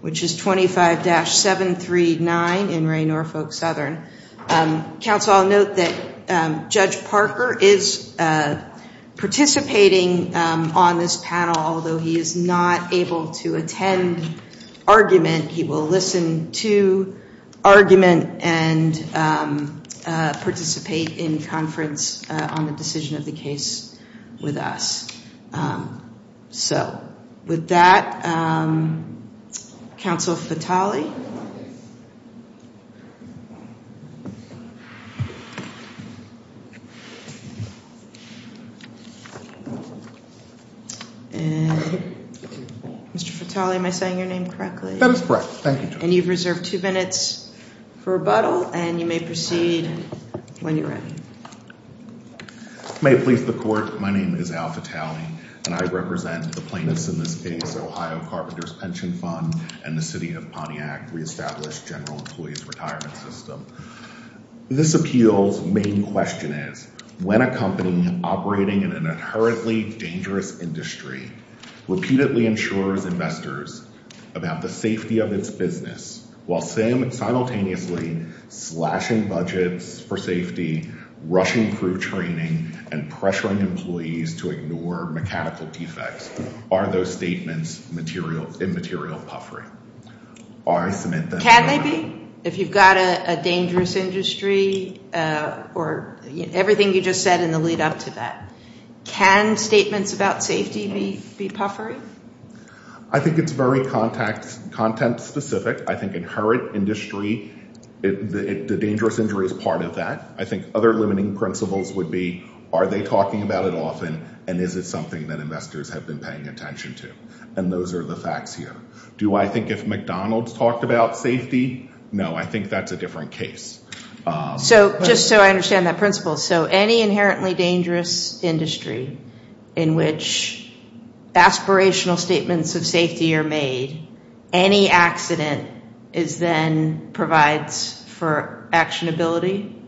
which is 25-739 in Re. Norfolk Southern. Counsel, I'll note that Judge Parker is participating on this panel, although he is not able to attend argument. He will listen to argument and participate in conference on the decision of the case with us. So, with that, Counsel Fatale. And, Mr. Fatale, am I saying your name correctly? That is correct. Thank you, Judge. And you've reserved two minutes for rebuttal, and you may proceed when you're ready. May it please the Court, my name is Al Fatale, and I represent the plaintiffs in this case, Ohio Carpenters Pension Fund and the City of Pontiac Reestablished General Employees Retirement System. This appeal's main question is, when a company operating in an inherently dangerous industry repeatedly insures investors about the safety of its business, while simultaneously slashing budgets for safety, rushing crew training, and pressuring employees to ignore mechanical defects, are those statements immaterial puffery? Can they be? If you've got a dangerous industry or everything you just said in the lead-up to that. Can statements about safety be puffery? I think it's very content-specific. I think inherent industry, the dangerous industry is part of that. I think other limiting principles would be, are they talking about it often, and is it something that investors have been paying attention to? And those are the facts here. Do I think if McDonald's talked about safety? No, I think that's a different case. So, just so I understand that principle, so any inherently dangerous industry in which aspirational statements of safety are made, any accident is then provides for actionability?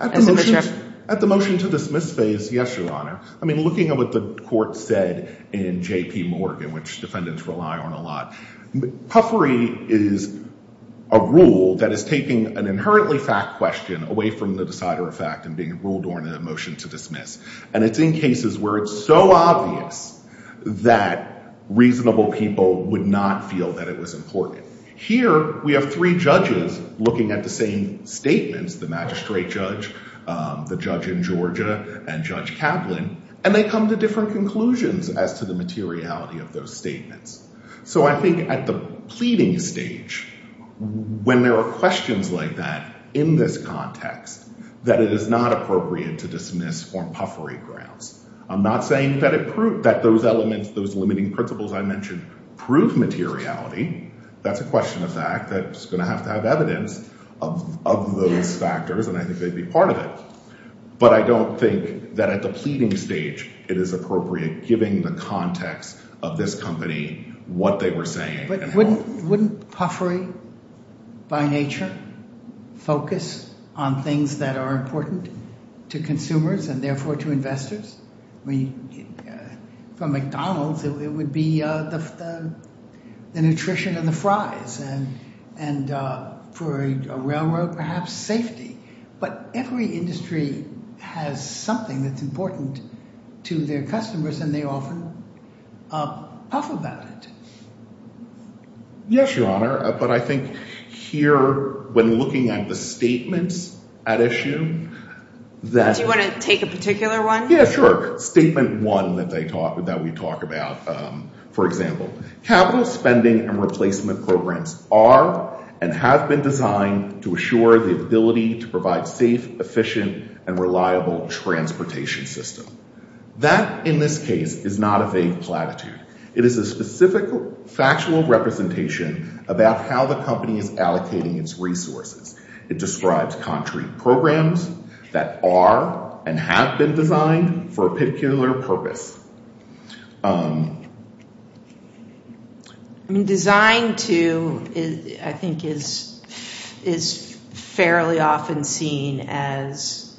At the motion to dismiss phase, yes, Your Honor. I mean, looking at what the court said in J.P. Morgan, which defendants rely on a lot, puffery is a rule that is taking an inherently fact question away from the decider of fact and being ruled or in a motion to dismiss. And it's in cases where it's so obvious that reasonable people would not feel that it was important. Here we have three judges looking at the same statements, the magistrate judge, the judge in Georgia, and Judge Kaplan, and they come to different conclusions as to the materiality of those statements. So I think at the pleading stage, when there are questions like that in this context, that it is not appropriate to dismiss for puffery grounds. I'm not saying that those elements, those limiting principles I mentioned, prove materiality. That's a question of fact that's going to have to have evidence of those factors, and I think they'd be part of it. But I don't think that at the pleading stage it is appropriate, given the context of this company, what they were saying. But wouldn't puffery, by nature, focus on things that are important to consumers and therefore to investors? For McDonald's, it would be the nutrition and the fries, and for a railroad, perhaps safety. But every industry has something that's important to their customers, and they often puff about it. Yes, Your Honor, but I think here, when looking at the statements at issue, that... Do you want to take a particular one? Yeah, sure. Statement one that we talk about, for example. Capital spending and replacement programs are and have been designed to assure the ability to provide safe, efficient, and reliable transportation systems. That, in this case, is not a vague platitude. It is a specific factual representation about how the company is allocating its resources. It describes contrary programs that are and have been designed for a particular purpose. I mean, designed to, I think, is fairly often seen as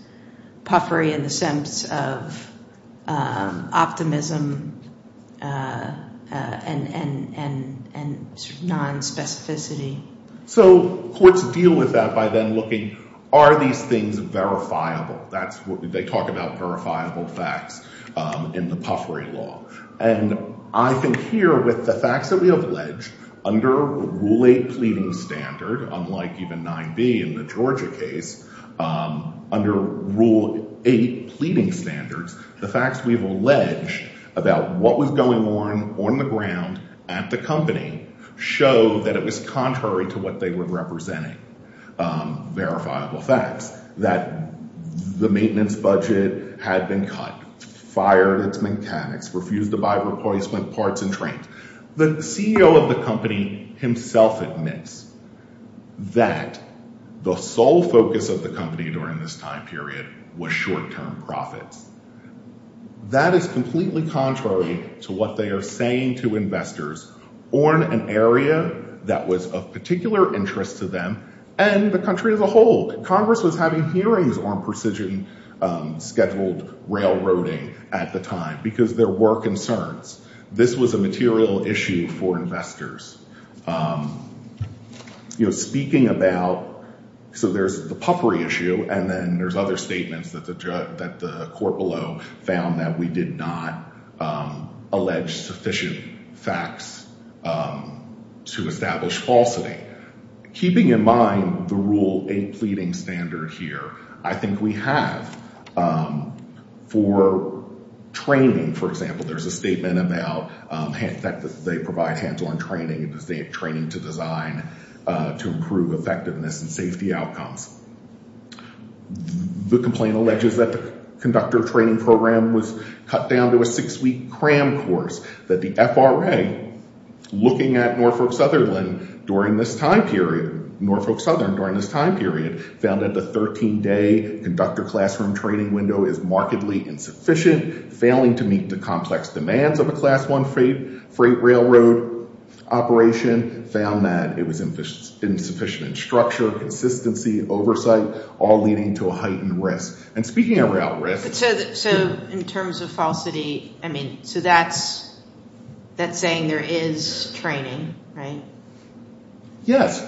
puffery in the sense of optimism and nonspecificity. So courts deal with that by then looking, are these things verifiable? They talk about verifiable facts in the puffery law. And I think here, with the facts that we have alleged, under Rule 8 Pleading Standard, unlike even 9b in the Georgia case, under Rule 8 Pleading Standards, the facts we have alleged about what was going on, on the ground, at the company, show that it was contrary to what they were representing, verifiable facts. That the maintenance budget had been cut, fired its mechanics, refused to buy replacement parts and trains. The CEO of the company himself admits that the sole focus of the company during this time period was short-term profits. That is completely contrary to what they are saying to investors on an area that was of particular interest to them and the country as a whole. Congress was having hearings on precision scheduled railroading at the time because there were concerns. This was a material issue for investors. Speaking about, so there's the puffery issue and then there's other statements that the court below found that we did not allege sufficient facts to establish falsity. Keeping in mind the Rule 8 Pleading Standard here, I think we have for training, for example, there's a statement about that they provide hands-on training and training to design to improve effectiveness and safety outcomes. The complaint alleges that the conductor training program was cut down to a six-week cram course. That the FRA, looking at Norfolk Sutherland during this time period, Norfolk Sutherland during this time period, found that the 13-day conductor classroom training window is markedly insufficient, failing to meet the complex demands of a Class 1 freight railroad operation, found that it was insufficient in structure, consistency, oversight, all leading to a heightened risk. And speaking about risk. So in terms of falsity, I mean, so that's saying there is training, right? Yes.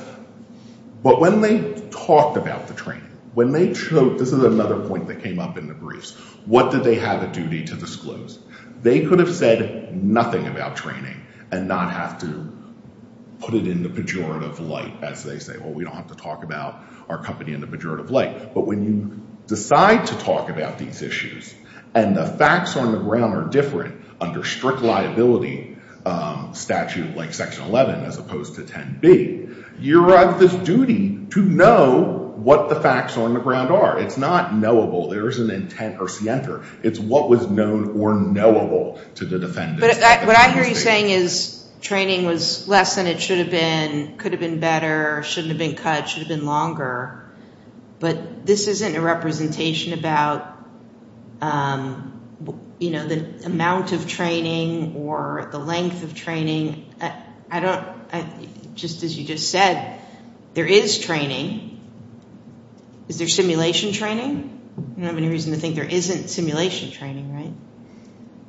But when they talked about the training, when they showed, this is another point that came up in the briefs, what did they have a duty to disclose? They could have said nothing about training and not have to put it in the pejorative light as they say, well, we don't have to talk about our company in the pejorative light. But when you decide to talk about these issues and the facts on the ground are different under strict liability statute like Section 11 as opposed to 10B, you're on this duty to know what the facts on the ground are. It's not knowable. There isn't intent or scienter. It's what was known or knowable to the defendant. But what I hear you saying is training was less than it should have been, could have been better, shouldn't have been cut, should have been longer. But this isn't a representation about, you know, the amount of training or the length of training. I don't, just as you just said, there is training. Is there simulation training? I don't have any reason to think there isn't simulation training, right?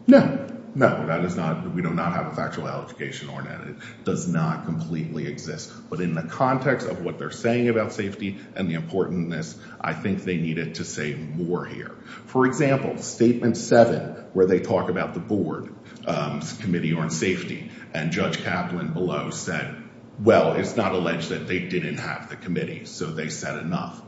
No. No, that is not, we do not have a factual allegation on it. It does not completely exist. But in the context of what they're saying about safety and the importantness, I think they needed to say more here. For example, Statement 7, where they talk about the board committee on safety and Judge Kaplan below said, well, it's not alleged that they didn't have the committee, so they said enough.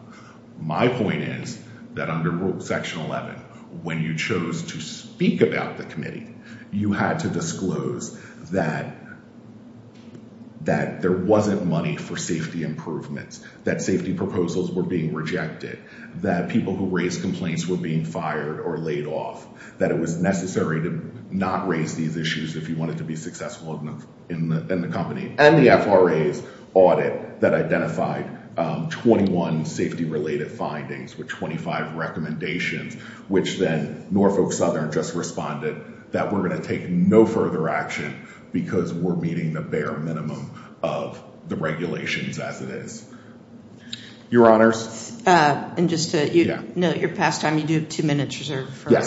My point is that under Section 11, when you chose to speak about the committee, you had to disclose that there wasn't money for safety improvements, that safety proposals were being rejected, that people who raised complaints were being fired or laid off, that it was necessary to not raise these issues if you wanted to be successful in the company, and the FRA's audit that identified 21 safety-related findings with 25 recommendations, which then Norfolk Southern just responded that we're going to take no further action because we're meeting the bare minimum of the regulations as it is. Your Honors? And just to note, your past time, you do have two minutes reserved. I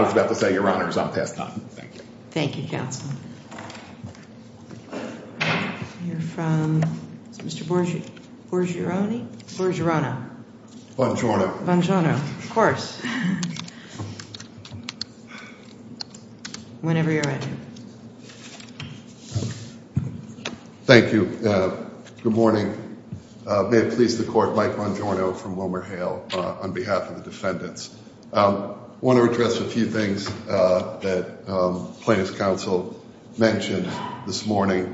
was about to say, Your Honors, I'm past time. Thank you. Thank you, Counsel. We'll hear from Mr. Borgiorone. Borgiorone. Bongiorno. Bongiorno. Of course. Whenever you're ready. Thank you. Good morning. May it please the Court, Mike Bongiorno from WilmerHale, on behalf of the defendants. I want to address a few things that Plaintiff's Counsel mentioned this morning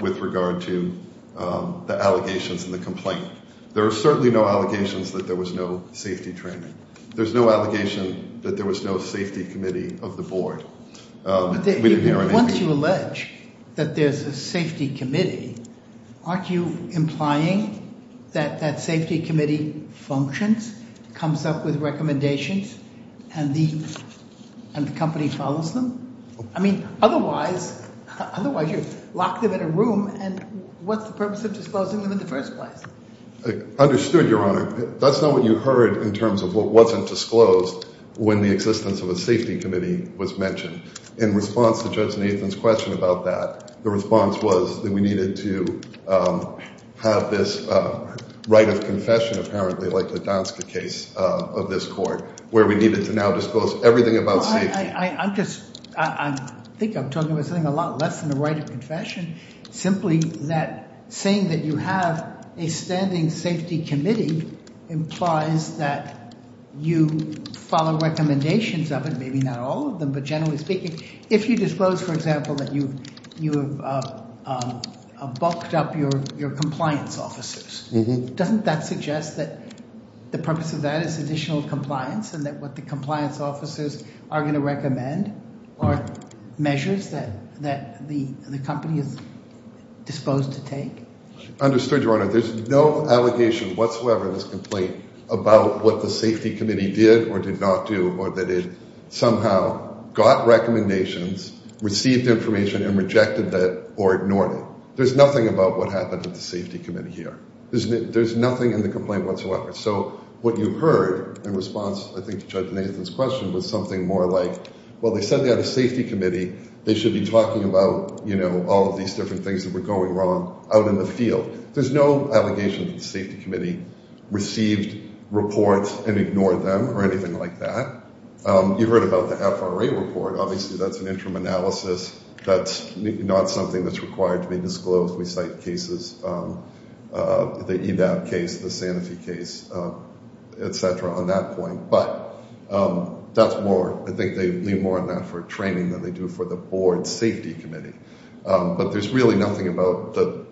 with regard to the allegations and the complaint. There are certainly no allegations that there was no safety training. There's no allegation that there was no safety committee of the board. Once you allege that there's a safety committee, aren't you implying that that safety committee functions, comes up with recommendations, and the company follows them? I mean, otherwise, you lock them in a room, and what's the purpose of disclosing them in the first place? Understood, Your Honor. That's not what you heard in terms of what wasn't disclosed when the existence of a safety committee was mentioned. In response to Judge Nathan's question about that, the response was that we needed to have this right of confession, apparently, like the Donska case of this court, where we needed to now disclose everything about safety. I think I'm talking about something a lot less than the right of confession, simply that saying that you have a standing safety committee implies that you follow recommendations of it, maybe not all of them, but generally speaking. If you disclose, for example, that you have bulked up your compliance officers, doesn't that suggest that the purpose of that is additional compliance and that what the compliance officers are going to recommend are measures that the company is disposed to take? Understood, Your Honor. There's no allegation whatsoever in this complaint about what the safety committee did or did not do or that it somehow got recommendations, received information, and rejected it or ignored it. There's nothing about what happened at the safety committee here. There's nothing in the complaint whatsoever. So what you heard in response, I think, to Judge Nathan's question, was something more like, well, they said they had a safety committee. They should be talking about, you know, all of these different things that were going wrong out in the field. There's no allegation that the safety committee received reports and ignored them or anything like that. You heard about the FRA report. Obviously, that's an interim analysis. That's not something that's required to be disclosed. We cite cases, the EVAP case, the Sanofi case, et cetera, on that point. But that's more. I think they lean more on that for training than they do for the board safety committee. But there's really nothing about the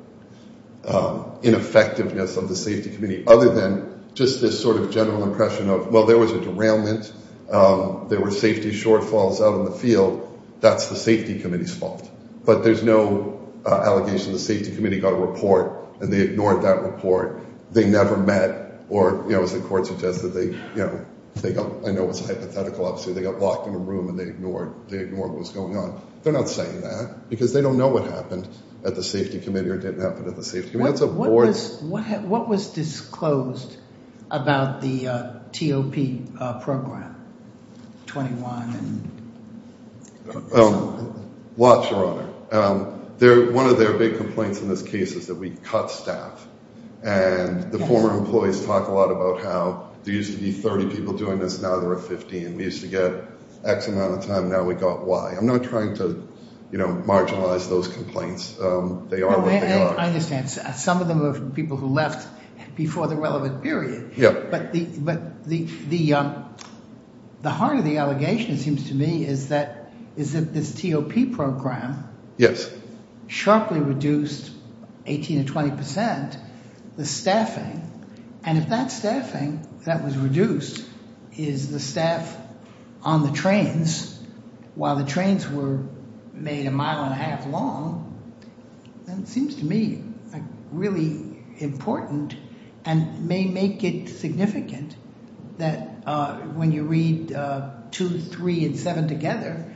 ineffectiveness of the safety committee other than just this sort of general impression of, well, there was a derailment. There were safety shortfalls out in the field. That's the safety committee's fault. But there's no allegation the safety committee got a report and they ignored that report. They never met or, you know, as the court suggested, they, you know, I know it's a hypothetical. Obviously, they got locked in a room and they ignored what was going on. They're not saying that because they don't know what happened at the safety committee or didn't happen at the safety committee. That's a board. What was disclosed about the TOP program, 21? Lots, Your Honor. One of their big complaints in this case is that we cut staff. And the former employees talk a lot about how there used to be 30 people doing this. Now there are 15. We used to get X amount of time. Now we got Y. I'm not trying to, you know, marginalize those complaints. They are what they are. I understand. Some of them are people who left before the relevant period. Yeah. But the heart of the allegation, it seems to me, is that this TOP program. Yes. Sharply reduced 18 to 20% the staffing. And if that staffing that was reduced is the staff on the trains while the trains were made a mile and a half long, then it seems to me really important and may make it significant that when you read 2, 3, and 7 together,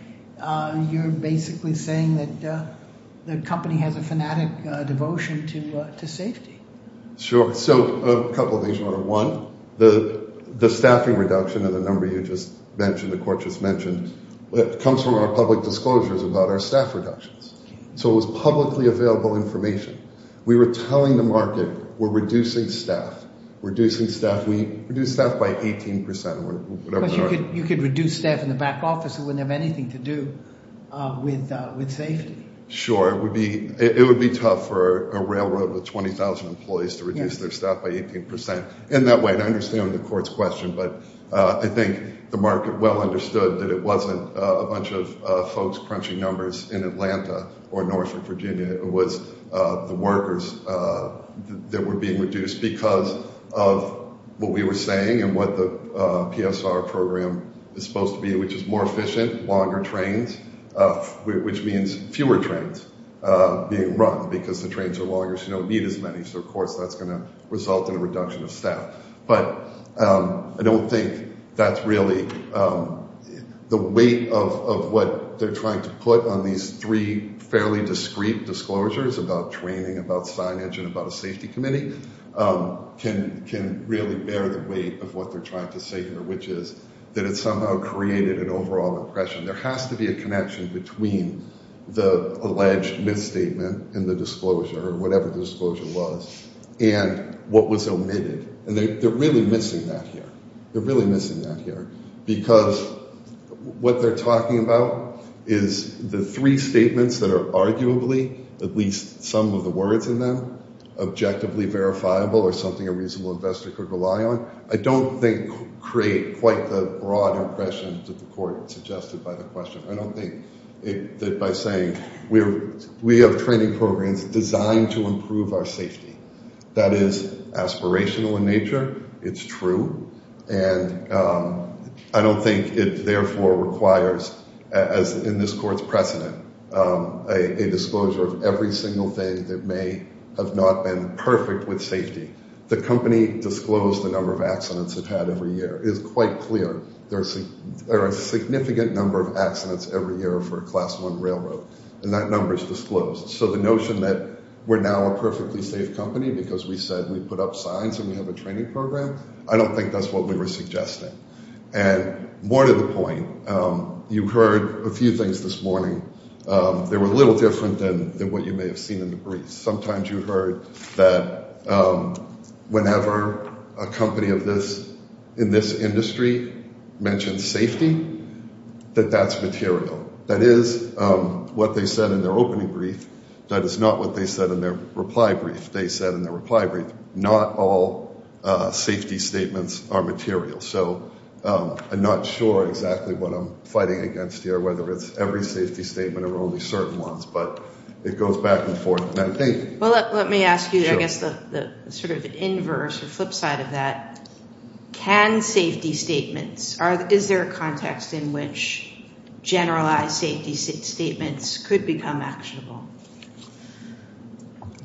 you're basically saying that the company has a fanatic devotion to safety. Sure. So a couple of things, Your Honor. One, the staffing reduction of the number you just mentioned, the court just mentioned, comes from our public disclosures about our staff reductions. So it was publicly available information. We were telling the market we're reducing staff, reducing staff. We reduce staff by 18%. You could reduce staff in the back office. It wouldn't have anything to do with safety. Sure. It would be tough for a railroad with 20,000 employees to reduce their staff by 18%. In that way, and I understand the court's question, but I think the market well understood that it wasn't a bunch of folks crunching numbers in Atlanta or Norfolk, Virginia. It was the workers that were being reduced because of what we were saying and what the PSR program is supposed to be, which is more efficient, longer trains, which means fewer trains being run because the trains are longer, so you don't need as many. So, of course, that's going to result in a reduction of staff. But I don't think that's really the weight of what they're trying to put on these three fairly discreet disclosures about training, about signage, and about a safety committee can really bear the weight of what they're trying to say here, which is that it somehow created an overall impression. There has to be a connection between the alleged misstatement and the disclosure or whatever the disclosure was and what was omitted, and they're really missing that here. They're really missing that here because what they're talking about is the three statements that are arguably, at least some of the words in them, objectively verifiable or something a reasonable investor could rely on. I don't think create quite the broad impression that the court suggested by the question. I don't think that by saying we have training programs designed to improve our safety. That is aspirational in nature. It's true, and I don't think it therefore requires, as in this court's precedent, a disclosure of every single thing that may have not been perfect with safety. The company disclosed the number of accidents it had every year. It is quite clear there are a significant number of accidents every year for a Class I railroad, and that number is disclosed. So the notion that we're now a perfectly safe company because we said we put up signs and we have a training program, I don't think that's what we were suggesting. And more to the point, you heard a few things this morning that were a little different than what you may have seen in the briefs. Sometimes you heard that whenever a company in this industry mentions safety, that that's material. That is what they said in their opening brief. That is not what they said in their reply brief. They said in their reply brief not all safety statements are material. So I'm not sure exactly what I'm fighting against here, whether it's every safety statement or only certain ones, but it goes back and forth. Well, let me ask you, I guess, the sort of inverse or flip side of that. Can safety statements, is there a context in which generalized safety statements could become actionable?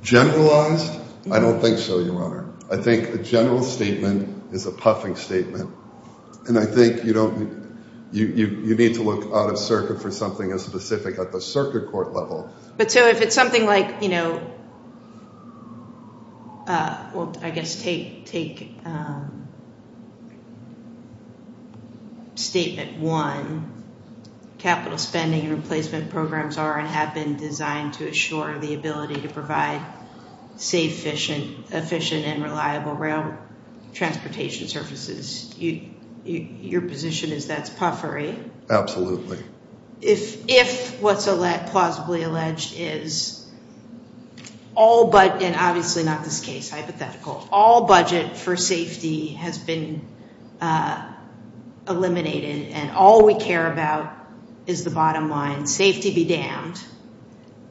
Generalized? I don't think so, Your Honor. I think a general statement is a puffing statement, and I think you need to look out of circuit for something as specific at the circuit court level. But so if it's something like, well, I guess take statement one, capital spending and replacement programs are and have been designed to assure the ability to provide safe, efficient, and reliable rail transportation services, your position is that's puffery. Absolutely. If what's plausibly alleged is all, and obviously not this case, hypothetical, all budget for safety has been eliminated and all we care about is the bottom line, safety be damned,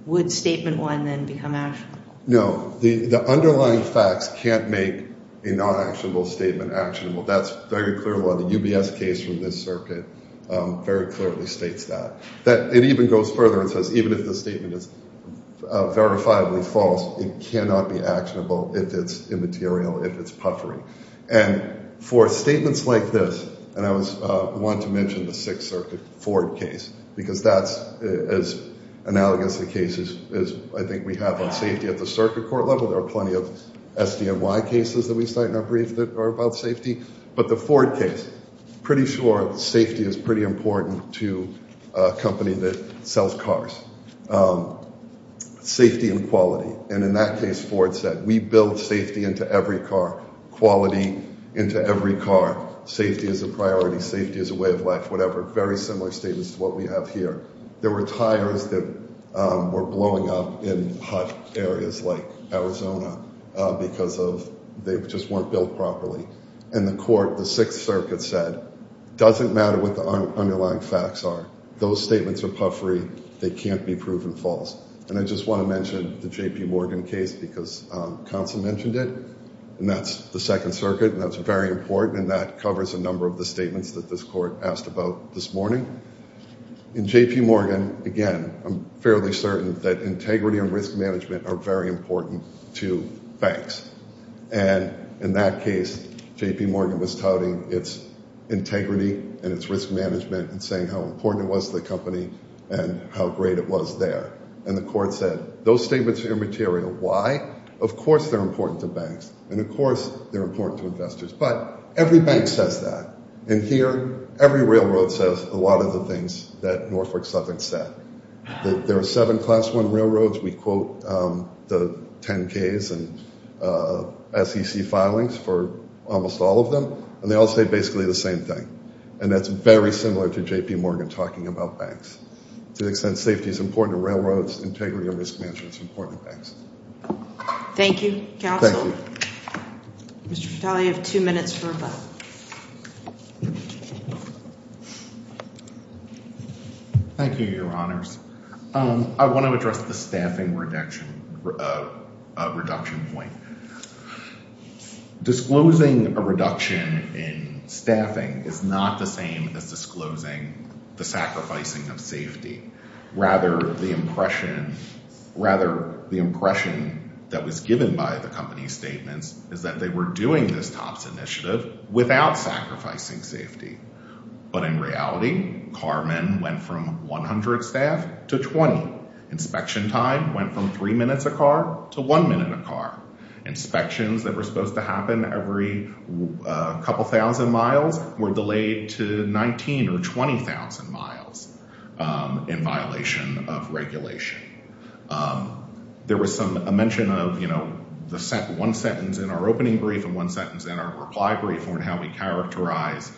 would statement one then become actionable? No. The underlying facts can't make a non-actionable statement actionable. That's very clear law. The UBS case from this circuit very clearly states that. It even goes further and says even if the statement is verifiably false, it cannot be actionable if it's immaterial, if it's puffery. And for statements like this, and I want to mention the Sixth Circuit Ford case, because that's as analogous a case as I think we have on safety at the circuit court level. There are plenty of SDNY cases that we cite in our brief that are about safety. But the Ford case, pretty sure safety is pretty important to a company that sells cars. Safety and quality, and in that case Ford said we build safety into every car, quality into every car, safety as a priority, safety as a way of life, whatever, very similar statements to what we have here. There were tires that were blowing up in hot areas like Arizona because they just weren't built properly. And the court, the Sixth Circuit, said it doesn't matter what the underlying facts are. Those statements are puffery. They can't be proven false. And I just want to mention the JP Morgan case because Council mentioned it, and that's the Second Circuit, and that's very important, and that covers a number of the statements that this court asked about this morning. In JP Morgan, again, I'm fairly certain that integrity and risk management are very important to banks. And in that case, JP Morgan was touting its integrity and its risk management and saying how important it was to the company and how great it was there. And the court said those statements are immaterial. Why? Of course they're important to banks, and of course they're important to investors. But every bank says that. And here, every railroad says a lot of the things that Norfolk Suffolk said. There are seven Class I railroads. We quote the 10Ks and SEC filings for almost all of them, and they all say basically the same thing. And that's very similar to JP Morgan talking about banks. To the extent safety is important to railroads, integrity and risk management is important to banks. Thank you, Counsel. Thank you. Mr. Vitale, you have two minutes for a vote. Thank you, Your Honors. I want to address the staffing reduction point. Disclosing a reduction in staffing is not the same as disclosing the sacrificing of safety. Rather, the impression that was given by the company's statements is that they were doing this TOPS initiative without sacrificing safety. But in reality, carmen went from 100 staff to 20. Inspection time went from three minutes a car to one minute a car. Inspections that were supposed to happen every couple thousand miles were delayed to 19,000 or 20,000 miles in violation of regulation. There was a mention of one sentence in our opening brief and one sentence in our reply brief on how we characterize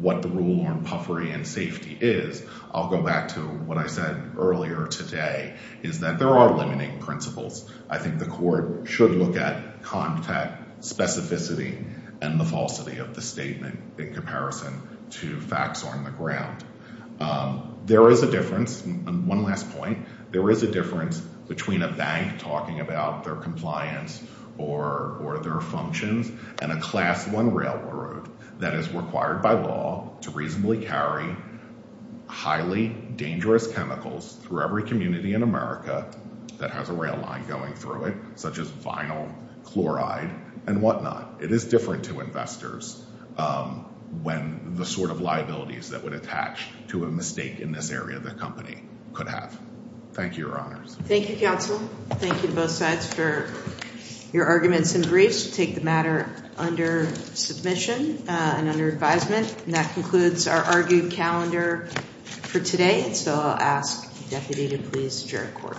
what the rule on puffery and safety is. I'll go back to what I said earlier today is that there are limiting principles. I think the court should look at contact specificity and the falsity of the statement in comparison to facts on the ground. There is a difference. One last point. There is a difference between a bank talking about their compliance or their functions and a class one railroad that is required by law to reasonably carry highly dangerous chemicals through every community in America that has a rail line going through it, such as vinyl, chloride, and whatnot. It is different to investors when the sort of liabilities that would attach to a mistake in this area the company could have. Thank you, Your Honors. Thank you, counsel. Thank you to both sides for your arguments and briefs. We'll take the matter under submission and under advisement. And that concludes our argued calendar for today. So I'll ask the deputy to please adjourn court. Court is adjourned.